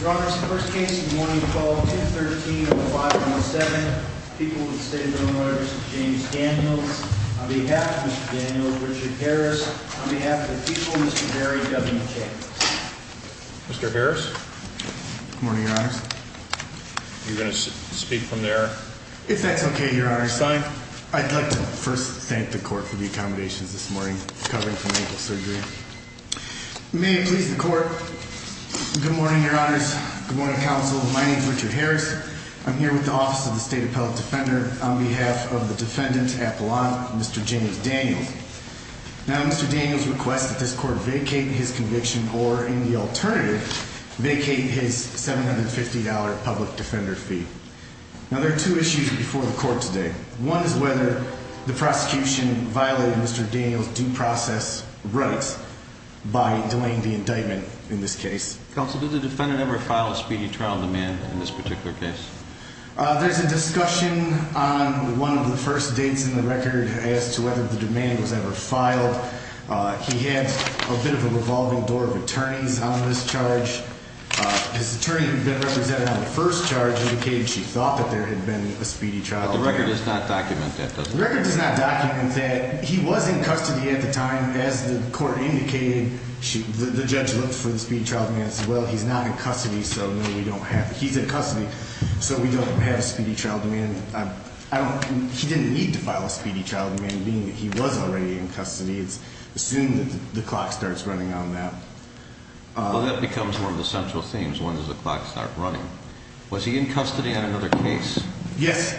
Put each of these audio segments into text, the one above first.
Your Honor, this is the first case of the morning called 10-13-05-07. People of the State of Illinois, Mr. James Daniels. On behalf of Mr. Daniels, Richard Harris. On behalf of the people, Mr. Barry W. Chambers. Mr. Harris? Good morning, Your Honor. You're going to speak from there? If that's okay, Your Honor. I'd like to first thank the court for the accommodations this morning, covering from ankle surgery. May it please the court. Good morning, Your Honors. Good morning, Counsel. My name is Richard Harris. I'm here with the Office of the State Appellate Defender on behalf of the defendant, Apollon, Mr. James Daniels. Now, Mr. Daniels requests that this court vacate his conviction or, in the alternative, vacate his $750 public defender fee. Now, there are two issues before the court today. One is whether the prosecution violated Mr. Daniels' due process rights by delaying the indictment in this case. Counsel, did the defendant ever file a speedy trial demand in this particular case? There's a discussion on one of the first dates in the record as to whether the demand was ever filed. He had a bit of a revolving door of attorneys on this charge. His attorney who had been represented on the first charge indicated she thought that there had been a speedy trial demand. But the record does not document that, does it? The record does not document that. He was in custody at the time. As the court indicated, the judge looked for the speedy trial demand and said, well, he's not in custody, so no, we don't have it. He's in custody, so we don't have a speedy trial demand. He didn't need to file a speedy trial demand, being that he was already in custody. It's assumed that the clock starts running on that. Well, that becomes one of the central themes. When does the clock start running? Was he in custody on another case? Yes.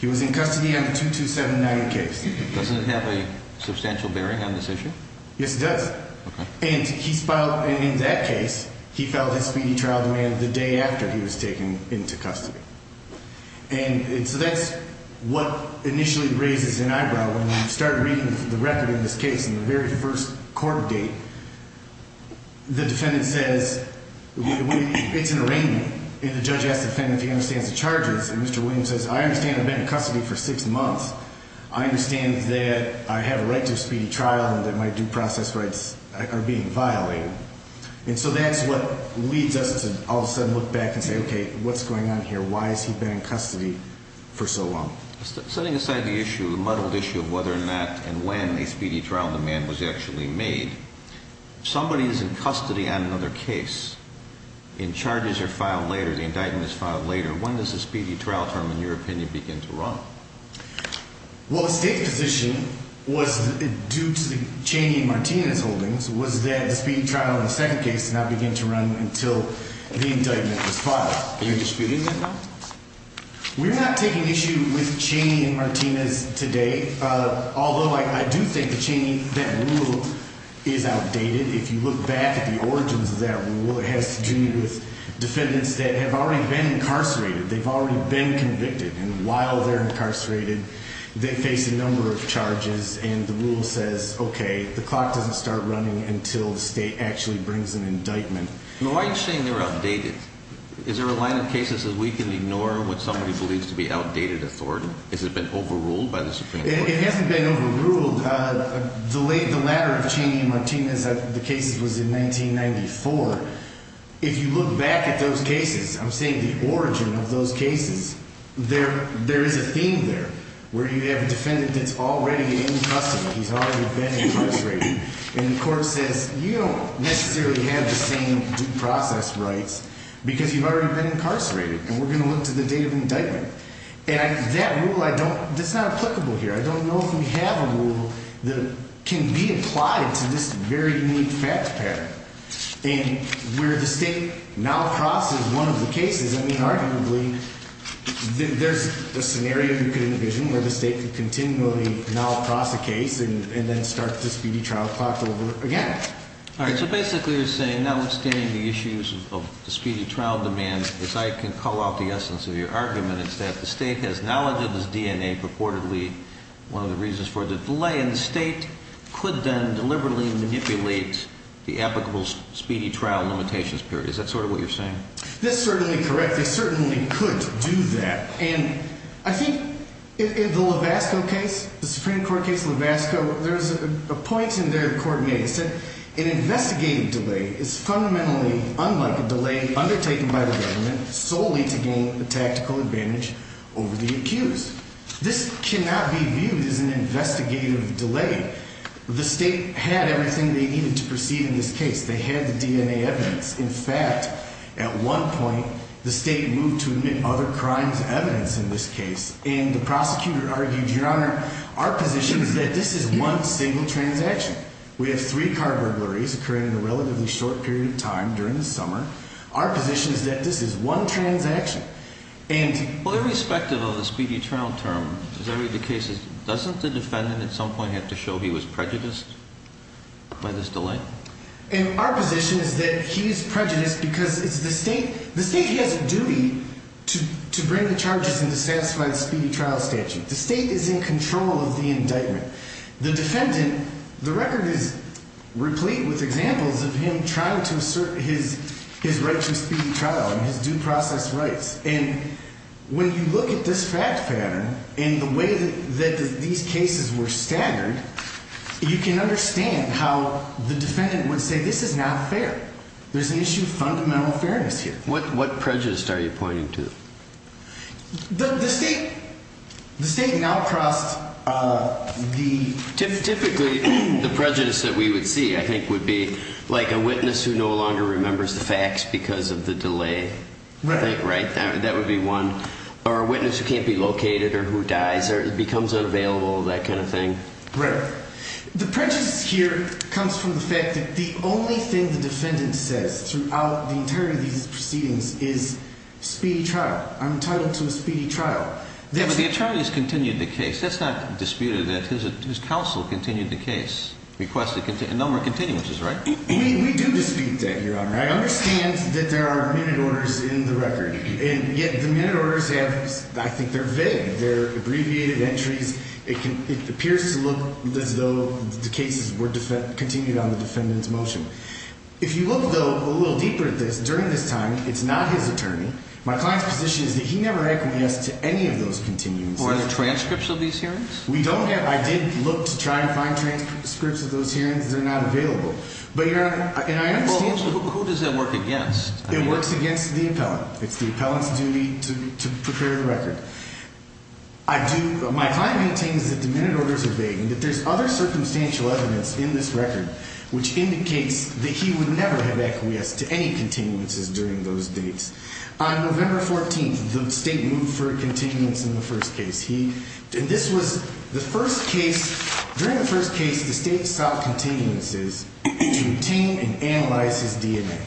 He was in custody on the 22798 case. Doesn't it have a substantial bearing on this issue? Yes, it does. Okay. And in that case, he filed his speedy trial demand the day after he was taken into custody. And so that's what initially raises an eyebrow. When you start reading the record in this case, in the very first court date, the defendant says it's an arraignment. And the judge asks the defendant if he understands the charges. And Mr. Williams says, I understand I've been in custody for six months. I understand that I have a right to a speedy trial and that my due process rights are being violated. And so that's what leads us to all of a sudden look back and say, okay, what's going on here? Why has he been in custody for so long? Setting aside the issue, the muddled issue of whether or not and when a speedy trial demand was actually made, if somebody is in custody on another case and charges are filed later, the indictment is filed later, when does the speedy trial term, in your opinion, begin to run? Well, the state's position was due to the Cheney and Martinez holdings was that the speedy trial in the second case did not begin to run until the indictment was filed. Are you disputing that now? We're not taking issue with Cheney and Martinez today. Although I do think the Cheney, that rule is outdated. If you look back at the origins of that rule, it has to do with defendants that have already been incarcerated. They've already been convicted. And while they're incarcerated, they face a number of charges. And the rule says, okay, the clock doesn't start running until the state actually brings an indictment. Why are you saying they're outdated? Is there a line of cases that we can ignore when somebody believes to be outdated authority? Has it been overruled by the Supreme Court? It hasn't been overruled. The latter of Cheney and Martinez, the case was in 1994. If you look back at those cases, I'm saying the origin of those cases, there is a theme there where you have a defendant that's already in custody. He's already been incarcerated. And the court says, you don't necessarily have the same due process rights because you've already been incarcerated, and we're going to look to the date of indictment. And that rule, it's not applicable here. I don't know if we have a rule that can be applied to this very unique fact pattern. And where the state now crosses one of the cases, I mean, arguably, there's a scenario you could envision where the state could continually now cross a case and then start the speedy trial clock over again. All right. So basically you're saying, notwithstanding the issues of the speedy trial demand, if I can call out the essence of your argument, it's that the state has knowledge of this DNA purportedly. One of the reasons for the delay in the state could then deliberately manipulate the applicable speedy trial limitations period. Is that sort of what you're saying? That's certainly correct. They certainly could do that. And I think in the Levasco case, the Supreme Court case Levasco, there's a point in there the court made. It said, an investigative delay is fundamentally unlike a delay undertaken by the government solely to gain a tactical advantage over the accused. This cannot be viewed as an investigative delay. The state had everything they needed to proceed in this case. They had the DNA evidence. In fact, at one point, the state moved to admit other crimes evidence in this case. And the prosecutor argued, Your Honor, our position is that this is one single transaction. We have three car burglaries occurring in a relatively short period of time during the summer. Our position is that this is one transaction. And— Well, irrespective of the speedy trial term, as I read the cases, doesn't the defendant at some point have to show he was prejudiced by this delay? And our position is that he is prejudiced because it's the state—the state has a duty to bring the charges and to satisfy the speedy trial statute. The state is in control of the indictment. The defendant—the record is replete with examples of him trying to assert his right to a speedy trial and his due process rights. And when you look at this fact pattern and the way that these cases were staggered, you can understand how the defendant would say this is not fair. There's an issue of fundamental fairness here. What prejudice are you pointing to? The state—the state now crossed the— That would be one. Or a witness who can't be located or who dies or becomes unavailable, that kind of thing. Right. The prejudice here comes from the fact that the only thing the defendant says throughout the entirety of these proceedings is speedy trial. I'm entitled to a speedy trial. Yeah, but the attorneys continued the case. That's not disputed, that his counsel continued the case, requested a number of continuances, right? We do dispute that, Your Honor. I understand that there are minute orders in the record, and yet the minute orders have—I think they're vague. They're abbreviated entries. It can—it appears to look as though the cases were—continued on the defendant's motion. If you look, though, a little deeper at this, during this time, it's not his attorney. My client's position is that he never had compliance to any of those continuances. Were there transcripts of these hearings? We don't have—I did look to try and find transcripts of those hearings. They're not available. But, Your Honor, and I understand— Well, who does that work against? It works against the appellant. It's the appellant's duty to prepare the record. I do—my client maintains that the minute orders are vague and that there's other circumstantial evidence in this record, which indicates that he would never have acquiesced to any continuances during those dates. On November 14th, the state moved for continuance in the first case. He—and this was the first case—during the first case, the state sought continuances to retain and analyze his DNA.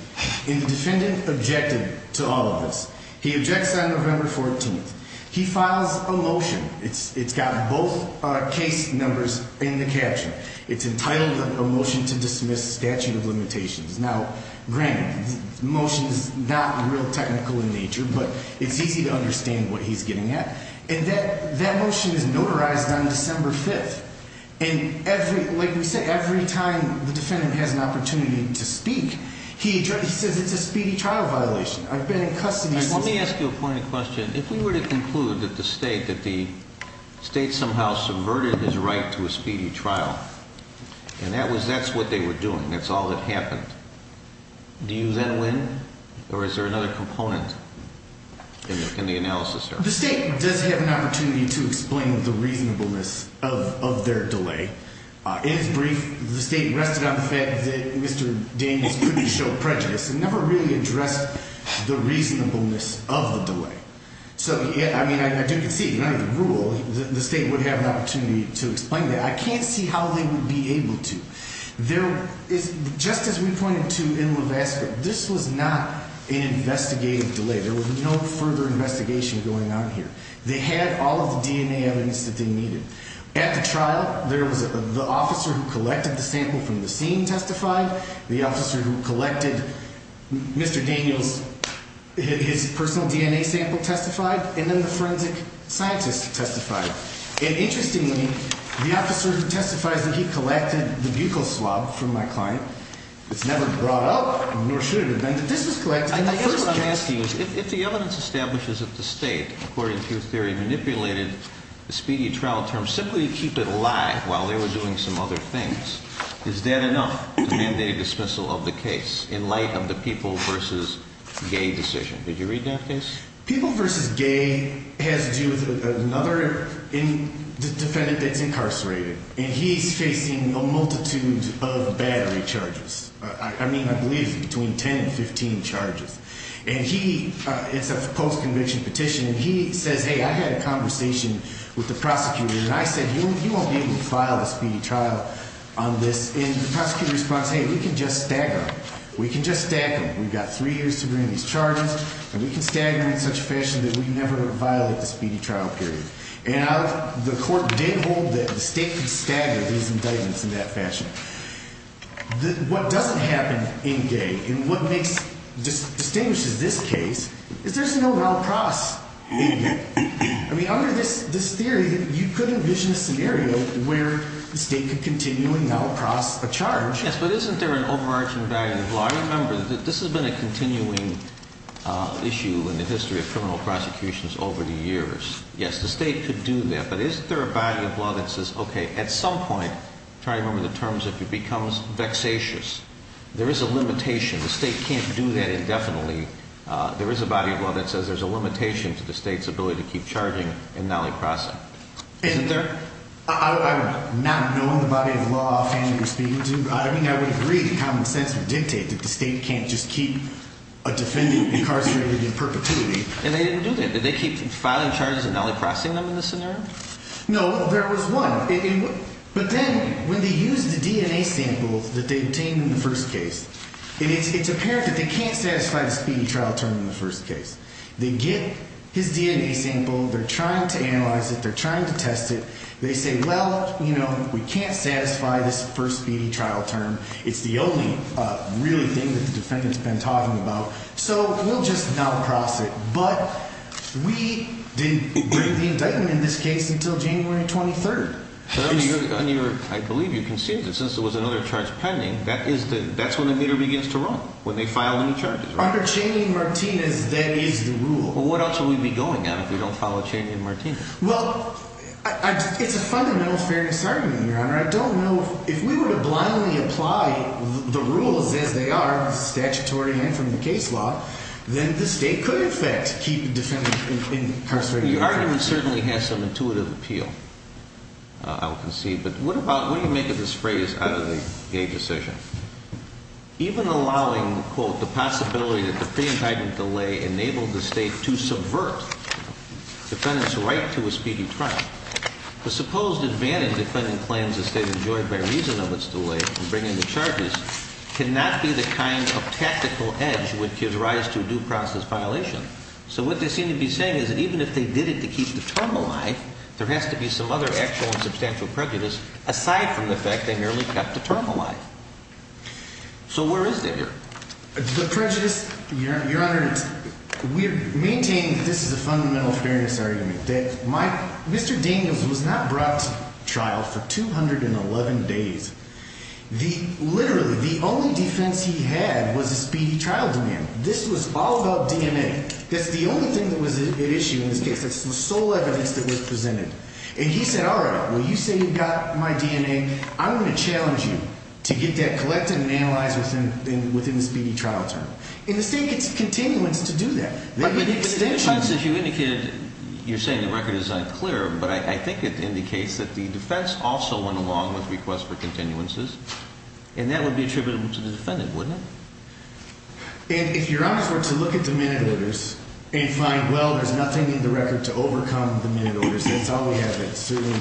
And the defendant objected to all of this. He objects on November 14th. He files a motion. It's got both case numbers in the caption. It's entitled a motion to dismiss statute of limitations. Now, granted, the motion is not real technical in nature, but it's easy to understand what he's getting at. And that motion is notarized on December 5th. And every—like we said, every time the defendant has an opportunity to speak, he says it's a speedy trial violation. I've been in custody since— Let me ask you a point of question. If we were to conclude that the state—that the state somehow subverted his right to a speedy trial, and that was—that's what they were doing. That's all that happened. Do you then win, or is there another component in the analysis there? The state does have an opportunity to explain the reasonableness of their delay. In its brief, the state rested on the fact that Mr. Daniels couldn't show prejudice and never really addressed the reasonableness of the delay. So, I mean, I do concede, under the rule, the state would have an opportunity to explain that. I can't see how they would be able to. There is—just as we pointed to in Levasseur, this was not an investigative delay. There was no further investigation going on here. They had all of the DNA evidence that they needed. At the trial, there was—the officer who collected the sample from the scene testified. The officer who collected Mr. Daniels'—his personal DNA sample testified. And then the forensic scientist testified. And interestingly, the officer who testifies that he collected the buccal swab from my client, it's never brought up, nor should it have been, that this was collected. I guess what I'm asking is if the evidence establishes that the state, according to your theory, manipulated the speedy trial term simply to keep it alive while they were doing some other things, is that enough to mandate a dismissal of the case in light of the people versus gay decision? Did you read that case? People versus gay has to do with another defendant that's incarcerated, and he's facing a multitude of battery charges. I mean, I believe it's between 10 and 15 charges. And he—it's a post-conviction petition, and he says, hey, I had a conversation with the prosecutor, and I said, you won't be able to file the speedy trial on this. And the prosecutor responds, hey, we can just stagger them. We can just stagger them. We've got three years to bring these charges, and we can stagger them in such a fashion that we never violate the speedy trial period. And the court did hold that the state could stagger these indictments in that fashion. What doesn't happen in gay and what makes—distinguishes this case is there's no now-across indictment. I mean, under this theory, you could envision a scenario where the state could continually now-across a charge. Yes, but isn't there an overarching value in the law? Remember, this has been a continuing issue in the history of criminal prosecutions over the years. Yes, the state could do that. But isn't there a body of law that says, okay, at some point—try to remember the terms—if it becomes vexatious, there is a limitation. The state can't do that indefinitely. There is a body of law that says there's a limitation to the state's ability to keep charging and now-across it. Isn't there? I'm not knowing the body of law offhand that you're speaking to. I mean, I would agree that common sense would dictate that the state can't just keep a defendant incarcerated in perpetuity. And they didn't do that. Did they keep filing charges and now-acrossing them in this scenario? No, there was one. But then when they used the DNA sample that they obtained in the first case, it's apparent that they can't satisfy the speedy trial term in the first case. They get his DNA sample. They're trying to analyze it. They're trying to test it. They say, well, you know, we can't satisfy this first speedy trial term. It's the only really thing that the defendant's been talking about. So we'll just now-cross it. But we didn't bring the indictment in this case until January 23rd. I believe you conceived it. Since there was another charge pending, that's when the meter begins to run, when they file new charges. Under Cheney and Martinez, that is the rule. Well, what else would we be going on if we don't follow Cheney and Martinez? I don't know. If we were to blindly apply the rules as they are, statutory and from the case law, then the state could, in effect, keep the defendant incarcerated. The argument certainly has some intuitive appeal, I would concede. But what about-what do you make of this phrase out of the gay decision? Even allowing, quote, the possibility that the pre-indictment delay enabled the state to subvert the defendant's right to a speedy trial, the supposed advantage the defendant claims the state enjoyed by reason of its delay in bringing the charges cannot be the kind of tactical edge which gives rise to a due process violation. So what they seem to be saying is that even if they did it to keep the term alive, there has to be some other actual and substantial prejudice aside from the fact they merely kept the term alive. So where is it here? The prejudice, Your Honor, we maintain that this is a fundamental fairness argument. Mr. Daniels was not brought to trial for 211 days. Literally, the only defense he had was a speedy trial demand. This was all about DNA. That's the only thing that was at issue in this case. That's the sole evidence that was presented. And he said, all right, well, you say you've got my DNA. I'm going to challenge you to get that collected and analyzed within the speedy trial term. And the state gets continuance to do that. But the continuance, as you indicated, you're saying the record is unclear, but I think it indicates that the defense also went along with requests for continuances. And that would be attributable to the defendant, wouldn't it? And if your honors were to look at the minute orders and find, well, there's nothing in the record to overcome the minute orders, that's all we have. That's certainly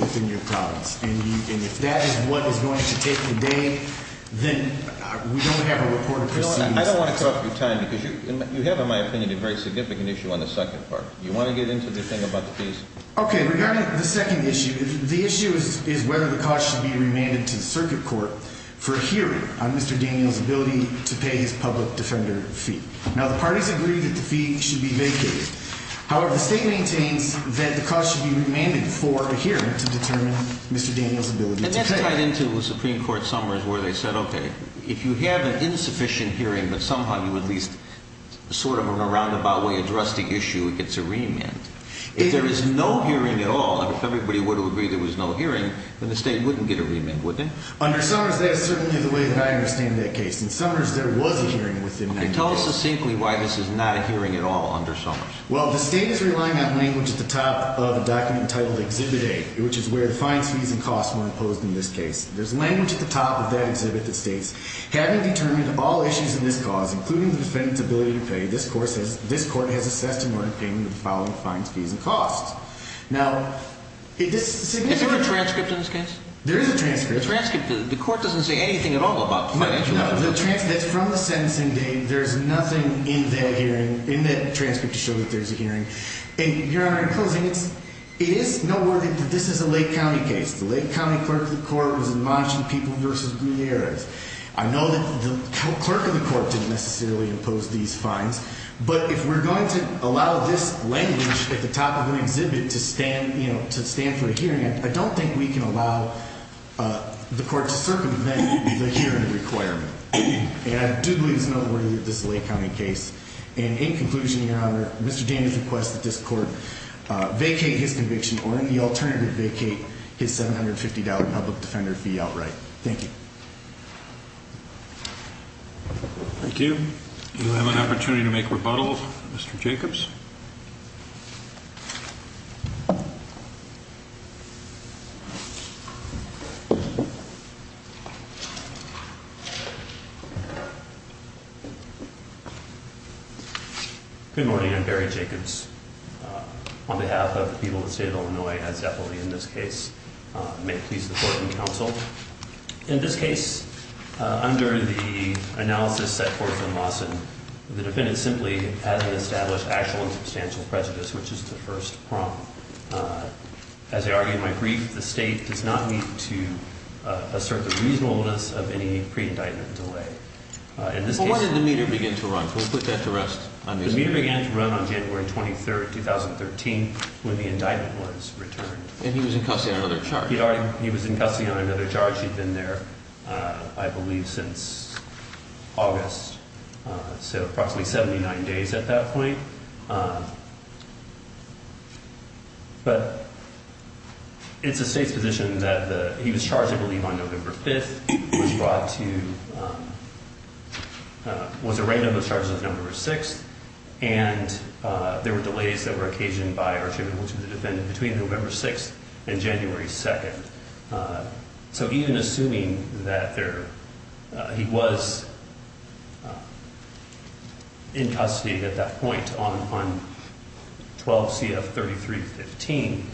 within your province. And if that is what is going to take the day, then we don't have a report of proceedings. I don't want to cut your time because you have, in my opinion, a very significant issue on the second part. Do you want to get into the thing about the fees? Okay. Regarding the second issue, the issue is whether the cost should be remanded to the circuit court for a hearing on Mr. Daniels' ability to pay his public defender fee. Now, the parties agree that the fee should be vacated. However, the state maintains that the cost should be remanded for a hearing to determine Mr. Daniels' ability to pay. And that's tied into the Supreme Court Summers where they said, okay, if you have an insufficient hearing but somehow you at least sort of in a roundabout way address the issue, it gets a remand. If there is no hearing at all, if everybody were to agree there was no hearing, then the state wouldn't get a remand, would they? Under Summers, that is certainly the way that I understand that case. In Summers, there was a hearing with him. Tell us succinctly why this is not a hearing at all under Summers. Well, the state is relying on language at the top of a document titled Exhibit A, which is where the fines, fees, and costs were imposed in this case. There's language at the top of that exhibit that states, having determined all issues in this cause, including the defendant's ability to pay, this court has assessed and ordered payment of the following fines, fees, and costs. Now, this signature – Is there a transcript in this case? There is a transcript. The transcript – the court doesn't say anything at all about the financial – That's from the sentencing date. There's nothing in that hearing, in that transcript, to show that there's a hearing. And, Your Honor, in closing, it is noteworthy that this is a Lake County case. The Lake County clerk of the court was in Monash and People v. Gutierrez. I know that the clerk of the court didn't necessarily impose these fines, but if we're going to allow this language at the top of an exhibit to stand, you know, to stand for a hearing, I don't think we can allow the court to circumvent the hearing requirement. And I do believe it's noteworthy that this is a Lake County case. And, in conclusion, Your Honor, Mr. Daniels requests that this court vacate his conviction or, in the alternative, vacate his $750 public defender fee outright. Thank you. Thank you. You have an opportunity to make rebuttal, Mr. Jacobs. Good morning. I'm Barry Jacobs. On behalf of the people of the state of Illinois, as definitely in this case, may it please the court and counsel, in this case, under the analysis set forth in Lawson, the defendant simply hasn't established actual and substantial prejudice, which is the first prompt. As I argued in my brief, the state does not need to assert the reasonableness of any pre-indictment delay. In this case... But when did the meter begin to run? Can we put that to rest? The meter began to run on January 23rd, 2013, when the indictment was returned. And he was in custody on another charge. He was in custody on another charge. He'd been there, I believe, since August. So approximately 79 days at that point. But it's the state's position that he was charged, I believe, on November 5th, was brought to... Was arraigned on those charges on November 6th. And there were delays that were occasioned by Archibald Wilson, the defendant, between November 6th and January 2nd. So even assuming that he was in custody at that point on 12 CF 3315,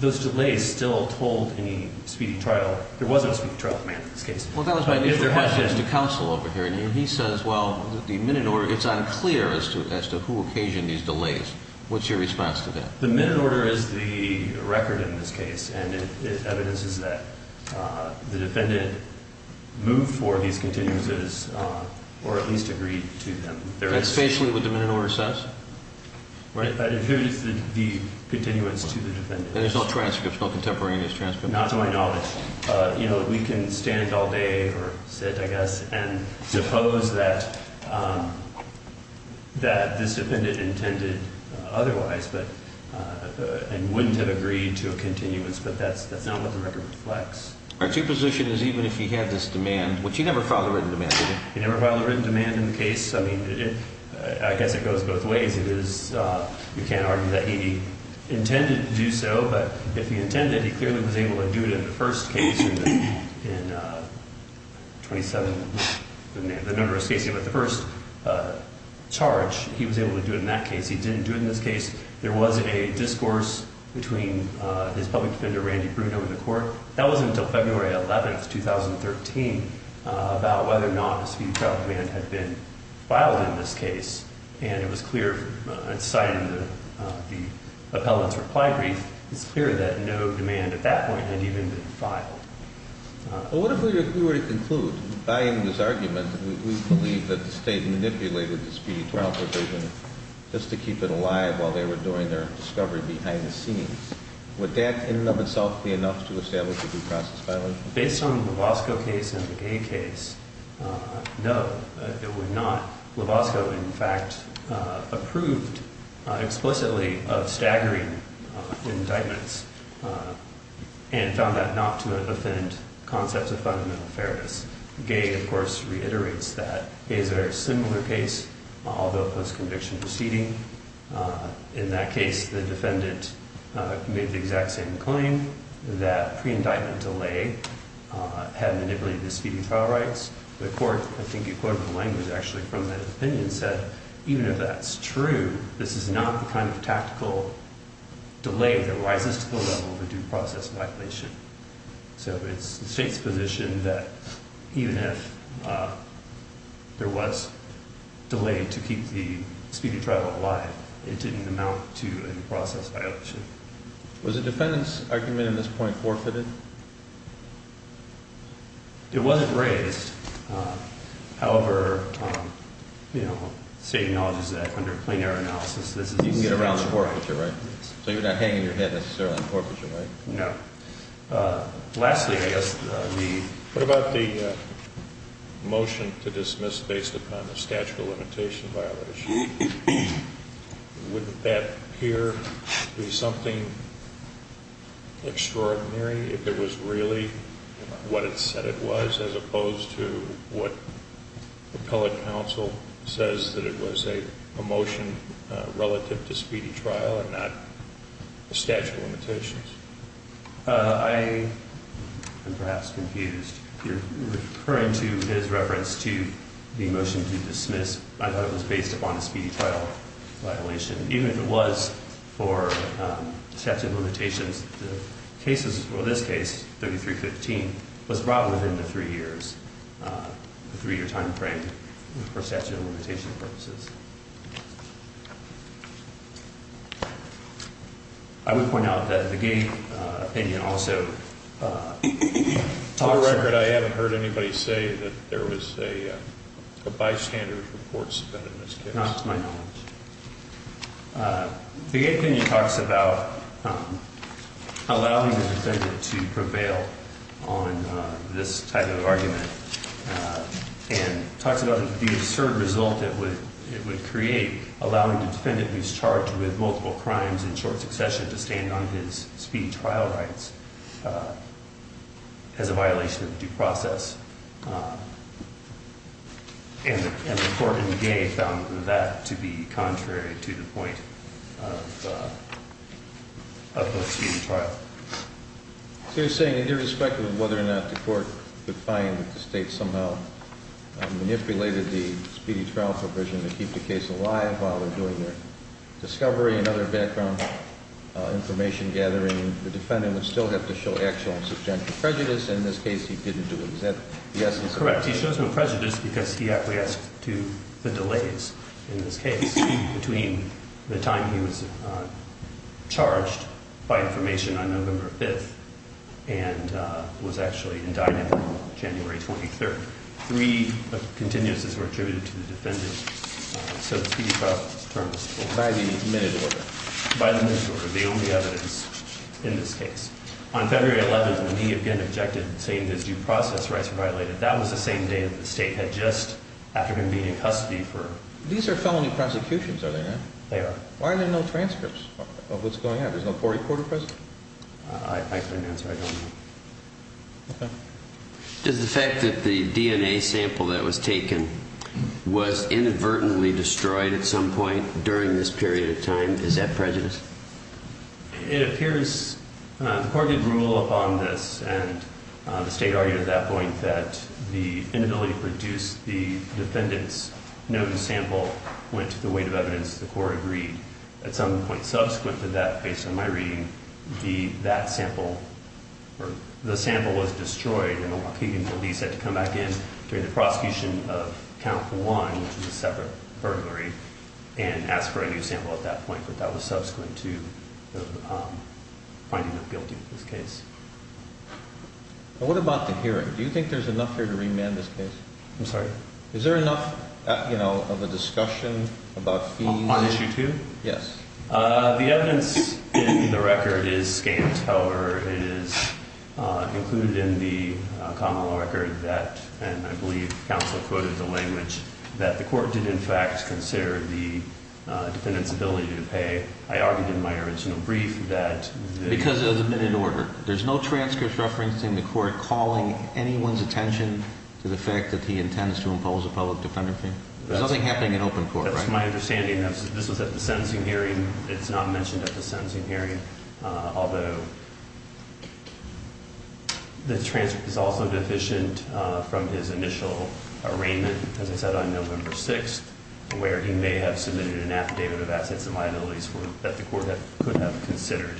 those delays still hold any speedy trial. There wasn't a speedy trial in this case. Well, that was my initial question to counsel over here. And he says, well, the minute order, it's unclear as to who occasioned these delays. What's your response to that? The minute order is the record in this case. And it evidences that the defendant moved for these continuances or at least agreed to them. That's basically what the minute order says? Right. That it is the continuance to the defendant. And there's no transcripts, no contemporaneous transcripts? Not to my knowledge. We can stand all day or sit, I guess, and suppose that this defendant intended otherwise and wouldn't have agreed to a continuance. But that's not what the record reflects. Aren't your position is even if he had this demand, which he never filed a written demand, did he? He never filed a written demand in the case. I mean, I guess it goes both ways. You can't argue that he intended to do so. But if he intended, he clearly was able to do it in the first case. In the first charge, he was able to do it in that case. He didn't do it in this case. There was a discourse between his public defender, Randy Bruno, and the court. That was until February 11, 2013, about whether or not a speed trial demand had been filed in this case. And it was clear, citing the appellant's reply brief, it's clear that no demand at that point had even been filed. Well, what if we were to conclude, buying this argument, we believe that the State manipulated this speed trial provision just to keep it alive while they were doing their discovery behind the scenes. Would that, in and of itself, be enough to establish a due process filing? Based on the Lovasco case and the Gay case, no, it would not. Lovasco, in fact, approved explicitly of staggering indictments and found that not to offend concepts of fundamental fairness. Gay, of course, reiterates that. Gay's a very similar case, although post-conviction proceeding. In that case, the defendant made the exact same claim, that pre-indictment delay had manipulated the speeding trial rights. The court, I think you quoted the language actually from that opinion, said, even if that's true, this is not the kind of tactical delay that rises to the level of a due process violation. So it's the State's position that even if there was delay to keep the speeding trial alive, it didn't amount to a due process violation. Was the defendant's argument at this point forfeited? It wasn't raised. However, you know, State acknowledges that under plain error analysis, this is... You can get a round of forfeiture, right? So you're not hanging your head necessarily on forfeiture, right? No. Lastly, I guess, the... What about the motion to dismiss based upon the statute of limitation violation? Would that here be something extraordinary if it was really what it said it was, as opposed to what appellate counsel says that it was a motion relative to speedy trial and not statute of limitations? I am perhaps confused. You're referring to his reference to the motion to dismiss. I thought it was based upon a speedy trial violation. Even if it was for statute of limitations, the cases for this case, 3315, was brought within the three years, the three-year time frame for statute of limitation purposes. I would point out that the gate opinion also talks about... For the record, I haven't heard anybody say that there was a bystander's report submitted in this case. Not to my knowledge. The gate opinion talks about allowing the defendant to prevail on this type of argument and talks about the absurd result it would create, allowing the defendant who's charged with multiple crimes in short succession to stand on his speedy trial rights as a violation of due process. And the court in the gate found that to be contrary to the point of the speedy trial. So you're saying that irrespective of whether or not the court could find that the state somehow manipulated the speedy trial provision to keep the case alive while they're doing their discovery and other background information gathering, the defendant would still have to show actual and substantial prejudice. In this case, he didn't do it. Is that the essence of it? Correct. He shows no prejudice because he acquiesced to the delays in this case between the time he was charged by information on November 5th and was actually indicted on January 23rd. Three continuances were attributed to the defendant, so the speedy trial term is over. By the minute order. By the minute order. The only evidence in this case. On February 11th, he again objected, saying his due process rights were violated. That was the same day that the state had just, after him being in custody for. These are felony prosecutions, are they not? They are. Why are there no transcripts of what's going on? There's no court report present? I couldn't answer. I don't know. Okay. Does the fact that the DNA sample that was taken was inadvertently destroyed at some point during this period of time, is that prejudice? It appears the court did rule upon this, and the state argued at that point that the inability to produce the defendant's known sample went to the weight of evidence the court agreed. At some point subsequent to that, based on my reading, the sample was destroyed, and the Waukegan police had to come back in during the prosecution of count one, which was a separate burglary, and ask for a new sample at that point, but that was subsequent to the finding of guilty in this case. What about the hearing? Do you think there's enough here to remand this case? I'm sorry? Is there enough, you know, of a discussion about fees? On issue two? Yes. The evidence in the record is scant. However, it is included in the common law record that, and I believe counsel quoted the language, that the court did in fact consider the defendant's ability to pay. I argued in my original brief that the- Because of the minute order. There's no transcripts referencing the court calling anyone's attention to the fact that he intends to impose a public defender fee? There's nothing happening in open court, right? From my understanding, this was at the sentencing hearing. It's not mentioned at the sentencing hearing, although the transcript is also deficient from his initial arraignment, as I said, on November 6th, where he may have submitted an affidavit of assets and liabilities that the court could have considered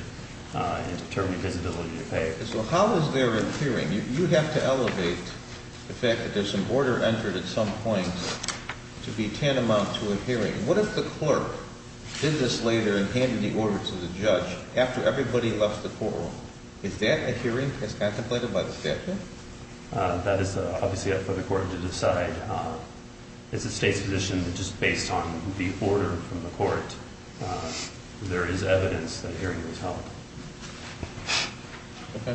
in determining his ability to pay. Okay. So how is there a hearing? You have to elevate the fact that there's some order entered at some point to be tantamount to a hearing. What if the clerk did this later and handed the order to the judge after everybody left the courtroom? Is that a hearing as contemplated by the statute? That is obviously up for the court to decide. It's the state's position that just based on the order from the court, there is evidence that a hearing was held. Okay.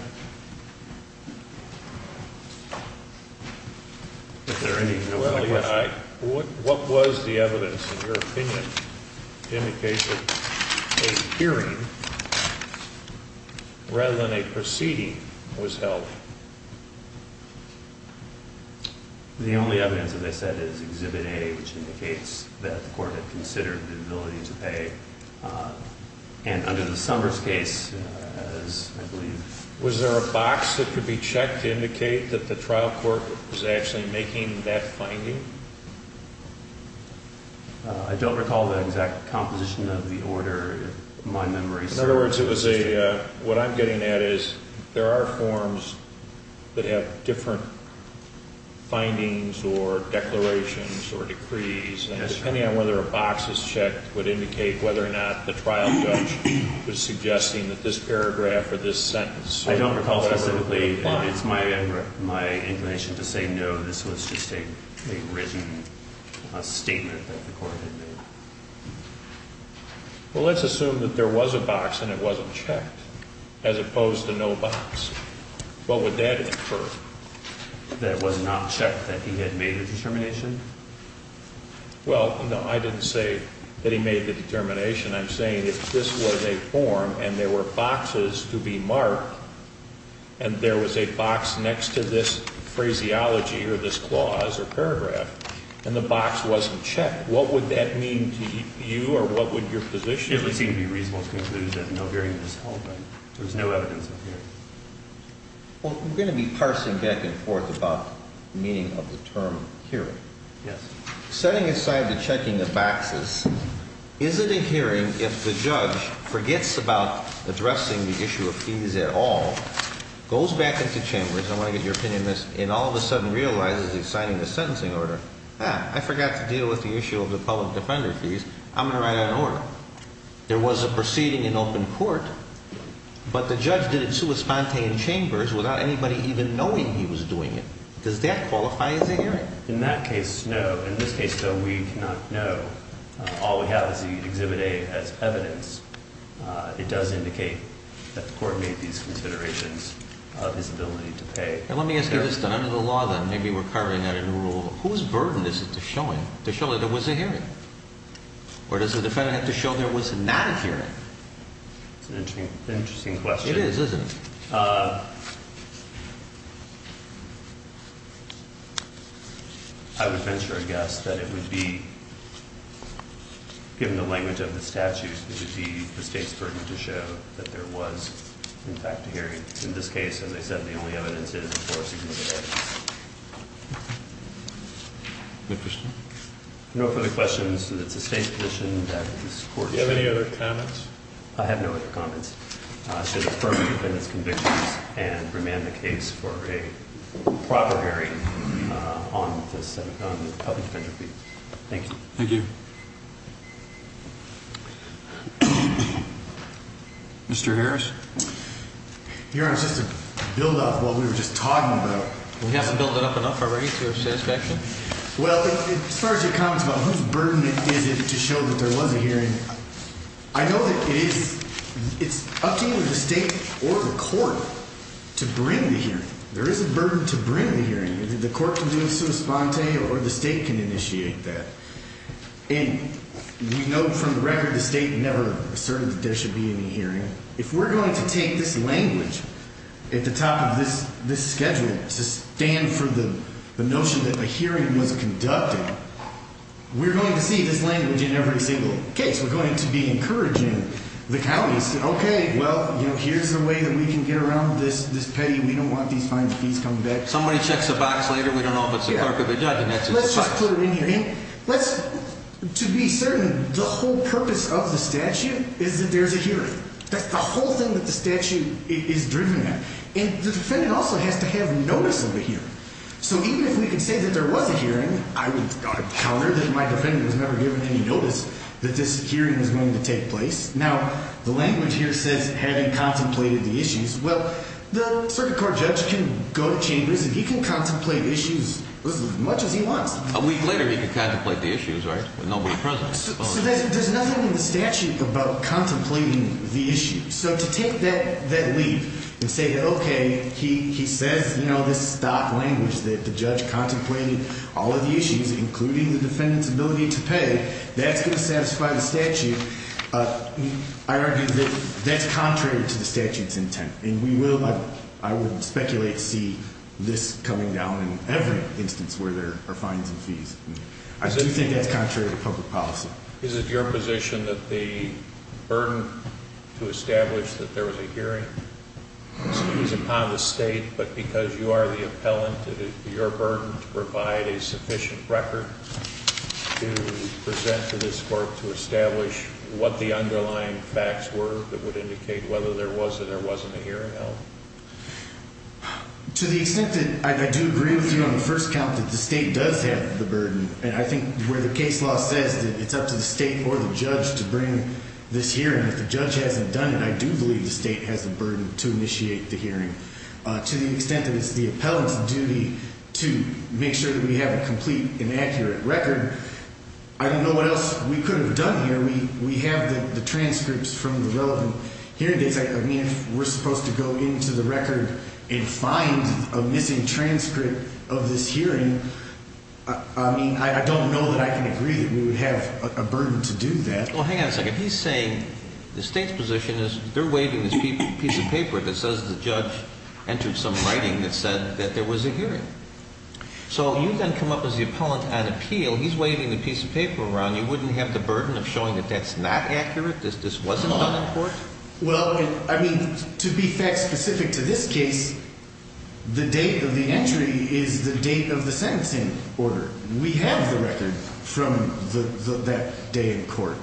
Is there any- Well, yeah, I- What was the evidence, in your opinion, in the case of a hearing rather than a proceeding was held? The only evidence, as I said, is Exhibit A, which indicates that the court had considered the ability to pay. And under the Summers case, as I believe- Was there a box that could be checked to indicate that the trial court was actually making that finding? I don't recall the exact composition of the order, if my memory serves. In other words, what I'm getting at is there are forms that have different findings or declarations or decrees, and depending on whether a box is checked would indicate whether or not the trial judge was suggesting that this paragraph or this sentence- I don't recall specifically, and it's my inclination to say no, this was just a written statement that the court had made. Well, let's assume that there was a box and it wasn't checked, as opposed to no box. What would that infer? That it was not checked, that he had made a determination? Well, no, I didn't say that he made the determination. I'm saying if this was a form and there were boxes to be marked, and there was a box next to this phraseology or this clause or paragraph, and the box wasn't checked, what would that mean to you or what would your position be? It would seem to be reasonable to conclude that no hearing was held, that there was no evidence of hearing. Well, we're going to be parsing back and forth about the meaning of the term hearing. Yes. Setting aside the checking of boxes, is it a hearing if the judge forgets about addressing the issue of fees at all, goes back into chambers, I want to get your opinion on this, and all of a sudden realizes he's signing a sentencing order? Ah, I forgot to deal with the issue of the public defender fees. I'm going to write out an order. There was a proceeding in open court, but the judge did it sui sponte in chambers without anybody even knowing he was doing it. Does that qualify as a hearing? In that case, no. In this case, though, we do not know. All we have is the Exhibit A as evidence. It does indicate that the court made these considerations of his ability to pay. Now, let me ask you this, then. Under the law, then, maybe we're carving out a new rule. Whose burden is it to show that there was a hearing? Or does the defendant have to show there was not a hearing? That's an interesting question. It is, isn't it? I would venture a guess that it would be, given the language of the statute, it would be the state's burden to show that there was, in fact, a hearing. In this case, as I said, the only evidence is four significant items. No further questions. It's the state's position that this court should Do you have any other comments? I have no other comments. Should affirm the defendant's convictions and remand the case for a proper hearing on the public defender fee. Thank you. Thank you. Mr. Harris? Your Honor, just to build up what we were just talking about. You haven't built it up enough already to have satisfaction? Well, as far as your comments about whose burden is it to show that there was a hearing, I know that it's up to either the state or the court to bring the hearing. There is a burden to bring the hearing. The court can do a sua sponte or the state can initiate that. And we know from the record the state never asserted that there should be any hearing. If we're going to take this language at the top of this schedule to stand for the notion that a hearing was conducted, we're going to see this language in every single case. We're going to be encouraging the counties to say, okay, well, here's a way that we can get around this pay. We don't want these fines and fees coming back. Somebody checks the box later. We don't know if it's the clerk or the judge. Let's just put it in here. To be certain, the whole purpose of the statute is that there's a hearing. That's the whole thing that the statute is driven at. And the defendant also has to have notice of the hearing. So even if we can say that there was a hearing, I would counter that my defendant was never given any notice that this hearing was going to take place. Now, the language here says having contemplated the issues. Well, the circuit court judge can go to chambers and he can contemplate issues as much as he wants. A week later he could contemplate the issues, right, with nobody present. So there's nothing in the statute about contemplating the issues. So to take that leap and say that, okay, he says this stock language that the judge contemplated all of the issues, including the defendant's ability to pay, that's going to satisfy the statute, I argue that that's contrary to the statute's intent. And we will, I would speculate, see this coming down in every instance where there are fines and fees. I do think that's contrary to public policy. Is it your position that the burden to establish that there was a hearing is upon the state, but because you are the appellant, is it your burden to provide a sufficient record to present to this court to establish what the underlying facts were that would indicate whether there was or there wasn't a hearing held? To the extent that I do agree with you on the first count that the state does have the burden, and I think where the case law says that it's up to the state or the judge to bring this hearing, if the judge hasn't done it, I do believe the state has the burden to initiate the hearing. To the extent that it's the appellant's duty to make sure that we have a complete and accurate record, I don't know what else we could have done here. We have the transcripts from the relevant hearing dates. I mean, if we're supposed to go into the record and find a missing transcript of this hearing, I mean, I don't know that I can agree that we would have a burden to do that. Well, hang on a second. He's saying the state's position is they're waiving this piece of paper that says the judge entered some writing that said that there was a hearing. So you then come up as the appellant on appeal. He's waiving the piece of paper around. You wouldn't have the burden of showing that that's not accurate, that this wasn't done in court? Well, I mean, to be fact-specific to this case, the date of the entry is the date of the sentencing order. We have the record from that day in court.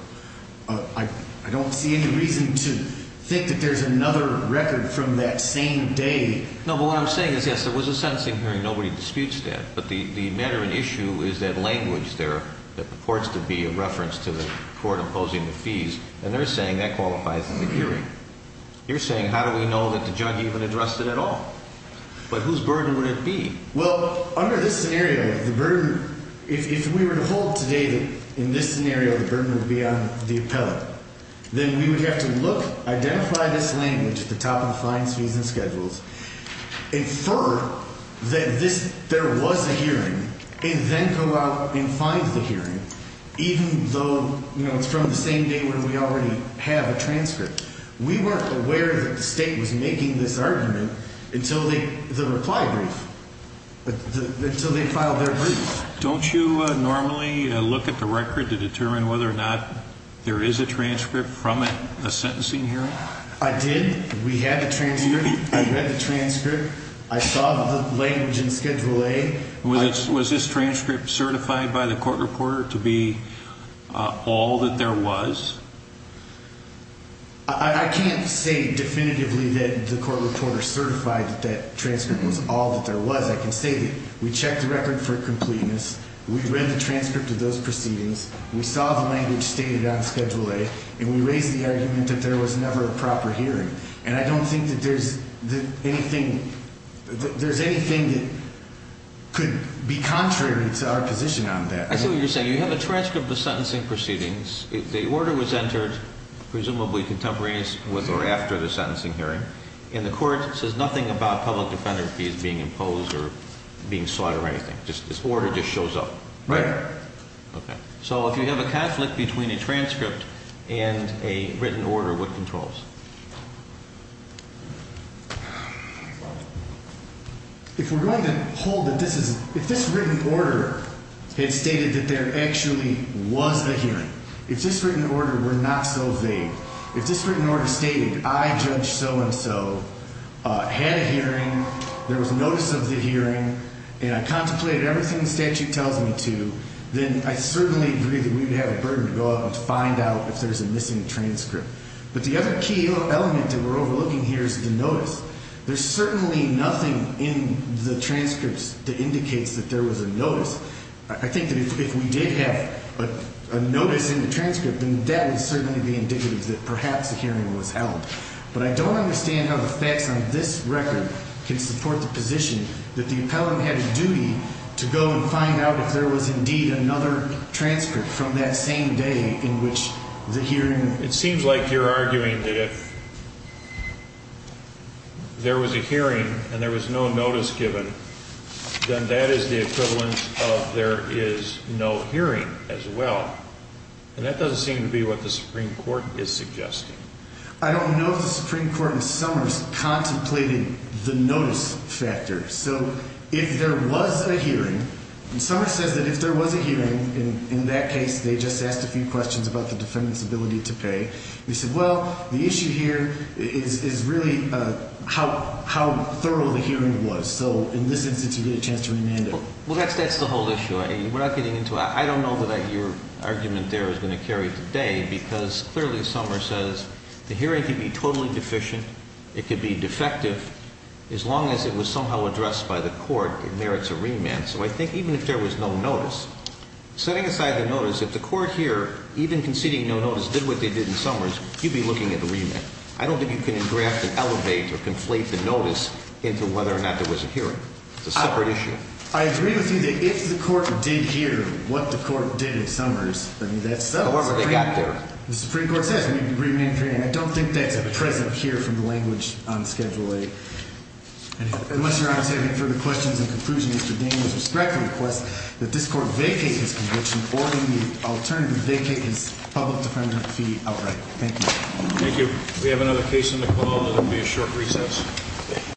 I don't see any reason to think that there's another record from that same day. No, but what I'm saying is, yes, there was a sentencing hearing. Nobody disputes that. But the matter and issue is that language there that purports to be a reference to the court imposing the fees, and they're saying that qualifies in the hearing. You're saying how do we know that the judge even addressed it at all? But whose burden would it be? Well, under this scenario, the burden, if we were to hold today that in this scenario the burden would be on the appellant, then we would have to look, identify this language at the top of the fines, fees, and schedules, infer that there was a hearing, and then go out and find the hearing, even though, you know, it's from the same day when we already have a transcript. We weren't aware that the state was making this argument until the reply brief, until they filed their brief. Don't you normally look at the record to determine whether or not there is a transcript from a sentencing hearing? I did. We had the transcript. I read the transcript. I saw the language in Schedule A. Was this transcript certified by the court reporter to be all that there was? I can't say definitively that the court reporter certified that that transcript was all that there was. I can say that we checked the record for completeness. We read the transcript of those proceedings. We saw the language stated on Schedule A, and we raised the argument that there was never a proper hearing. And I don't think that there's anything that could be contrary to our position on that. I see what you're saying. You have a transcript of the sentencing proceedings. The order was entered, presumably contemporaneous or after the sentencing hearing, and the court says nothing about public defender fees being imposed or being sought or anything. This order just shows up. Right. Okay. So if you have a conflict between a transcript and a written order, what controls? If we're going to hold that this is – if this written order had stated that there actually was a hearing, if this written order were not so vague, if this written order stated I, Judge So-and-So, had a hearing, there was notice of the hearing, and I contemplated everything the statute tells me to, then I certainly agree that we would have a burden to go out and find out if there's a missing transcript. But the other key element that we're overlooking here is the notice. There's certainly nothing in the transcripts that indicates that there was a notice. I think that if we did have a notice in the transcript, then that would certainly be indicative that perhaps a hearing was held. But I don't understand how the facts on this record can support the position that the appellant had a duty to go and find out if there was indeed another transcript from that same day in which the hearing – It seems like you're arguing that if there was a hearing and there was no notice given, then that is the equivalence of there is no hearing as well. And that doesn't seem to be what the Supreme Court is suggesting. I don't know if the Supreme Court in Summers contemplated the notice factor. So if there was a hearing – and Summers says that if there was a hearing, in that case they just asked a few questions about the defendant's ability to pay. They said, well, the issue here is really how thorough the hearing was. So in this instance you get a chance to remand it. Well, that's the whole issue. We're not getting into – I don't know that your argument there is going to carry today because clearly Summers says the hearing can be totally deficient. It could be defective. As long as it was somehow addressed by the court, it merits a remand. So I think even if there was no notice, setting aside the notice, if the court here, even conceding no notice, did what they did in Summers, you'd be looking at the remand. I don't think you can engraft and elevate or conflate the notice into whether or not there was a hearing. It's a separate issue. I agree with you that if the court did hear what the court did in Summers, I mean, that's – However they got there. The Supreme Court says we need to remand the hearing. I don't think that's at present here from the language on Schedule 8. Unless your Honor is having further questions in conclusion, Mr. Daniels would respectfully request that this court vacate his conviction or alternatively vacate his public defender fee outright. Thank you. Thank you. We have another case on the call. It will be a short recess.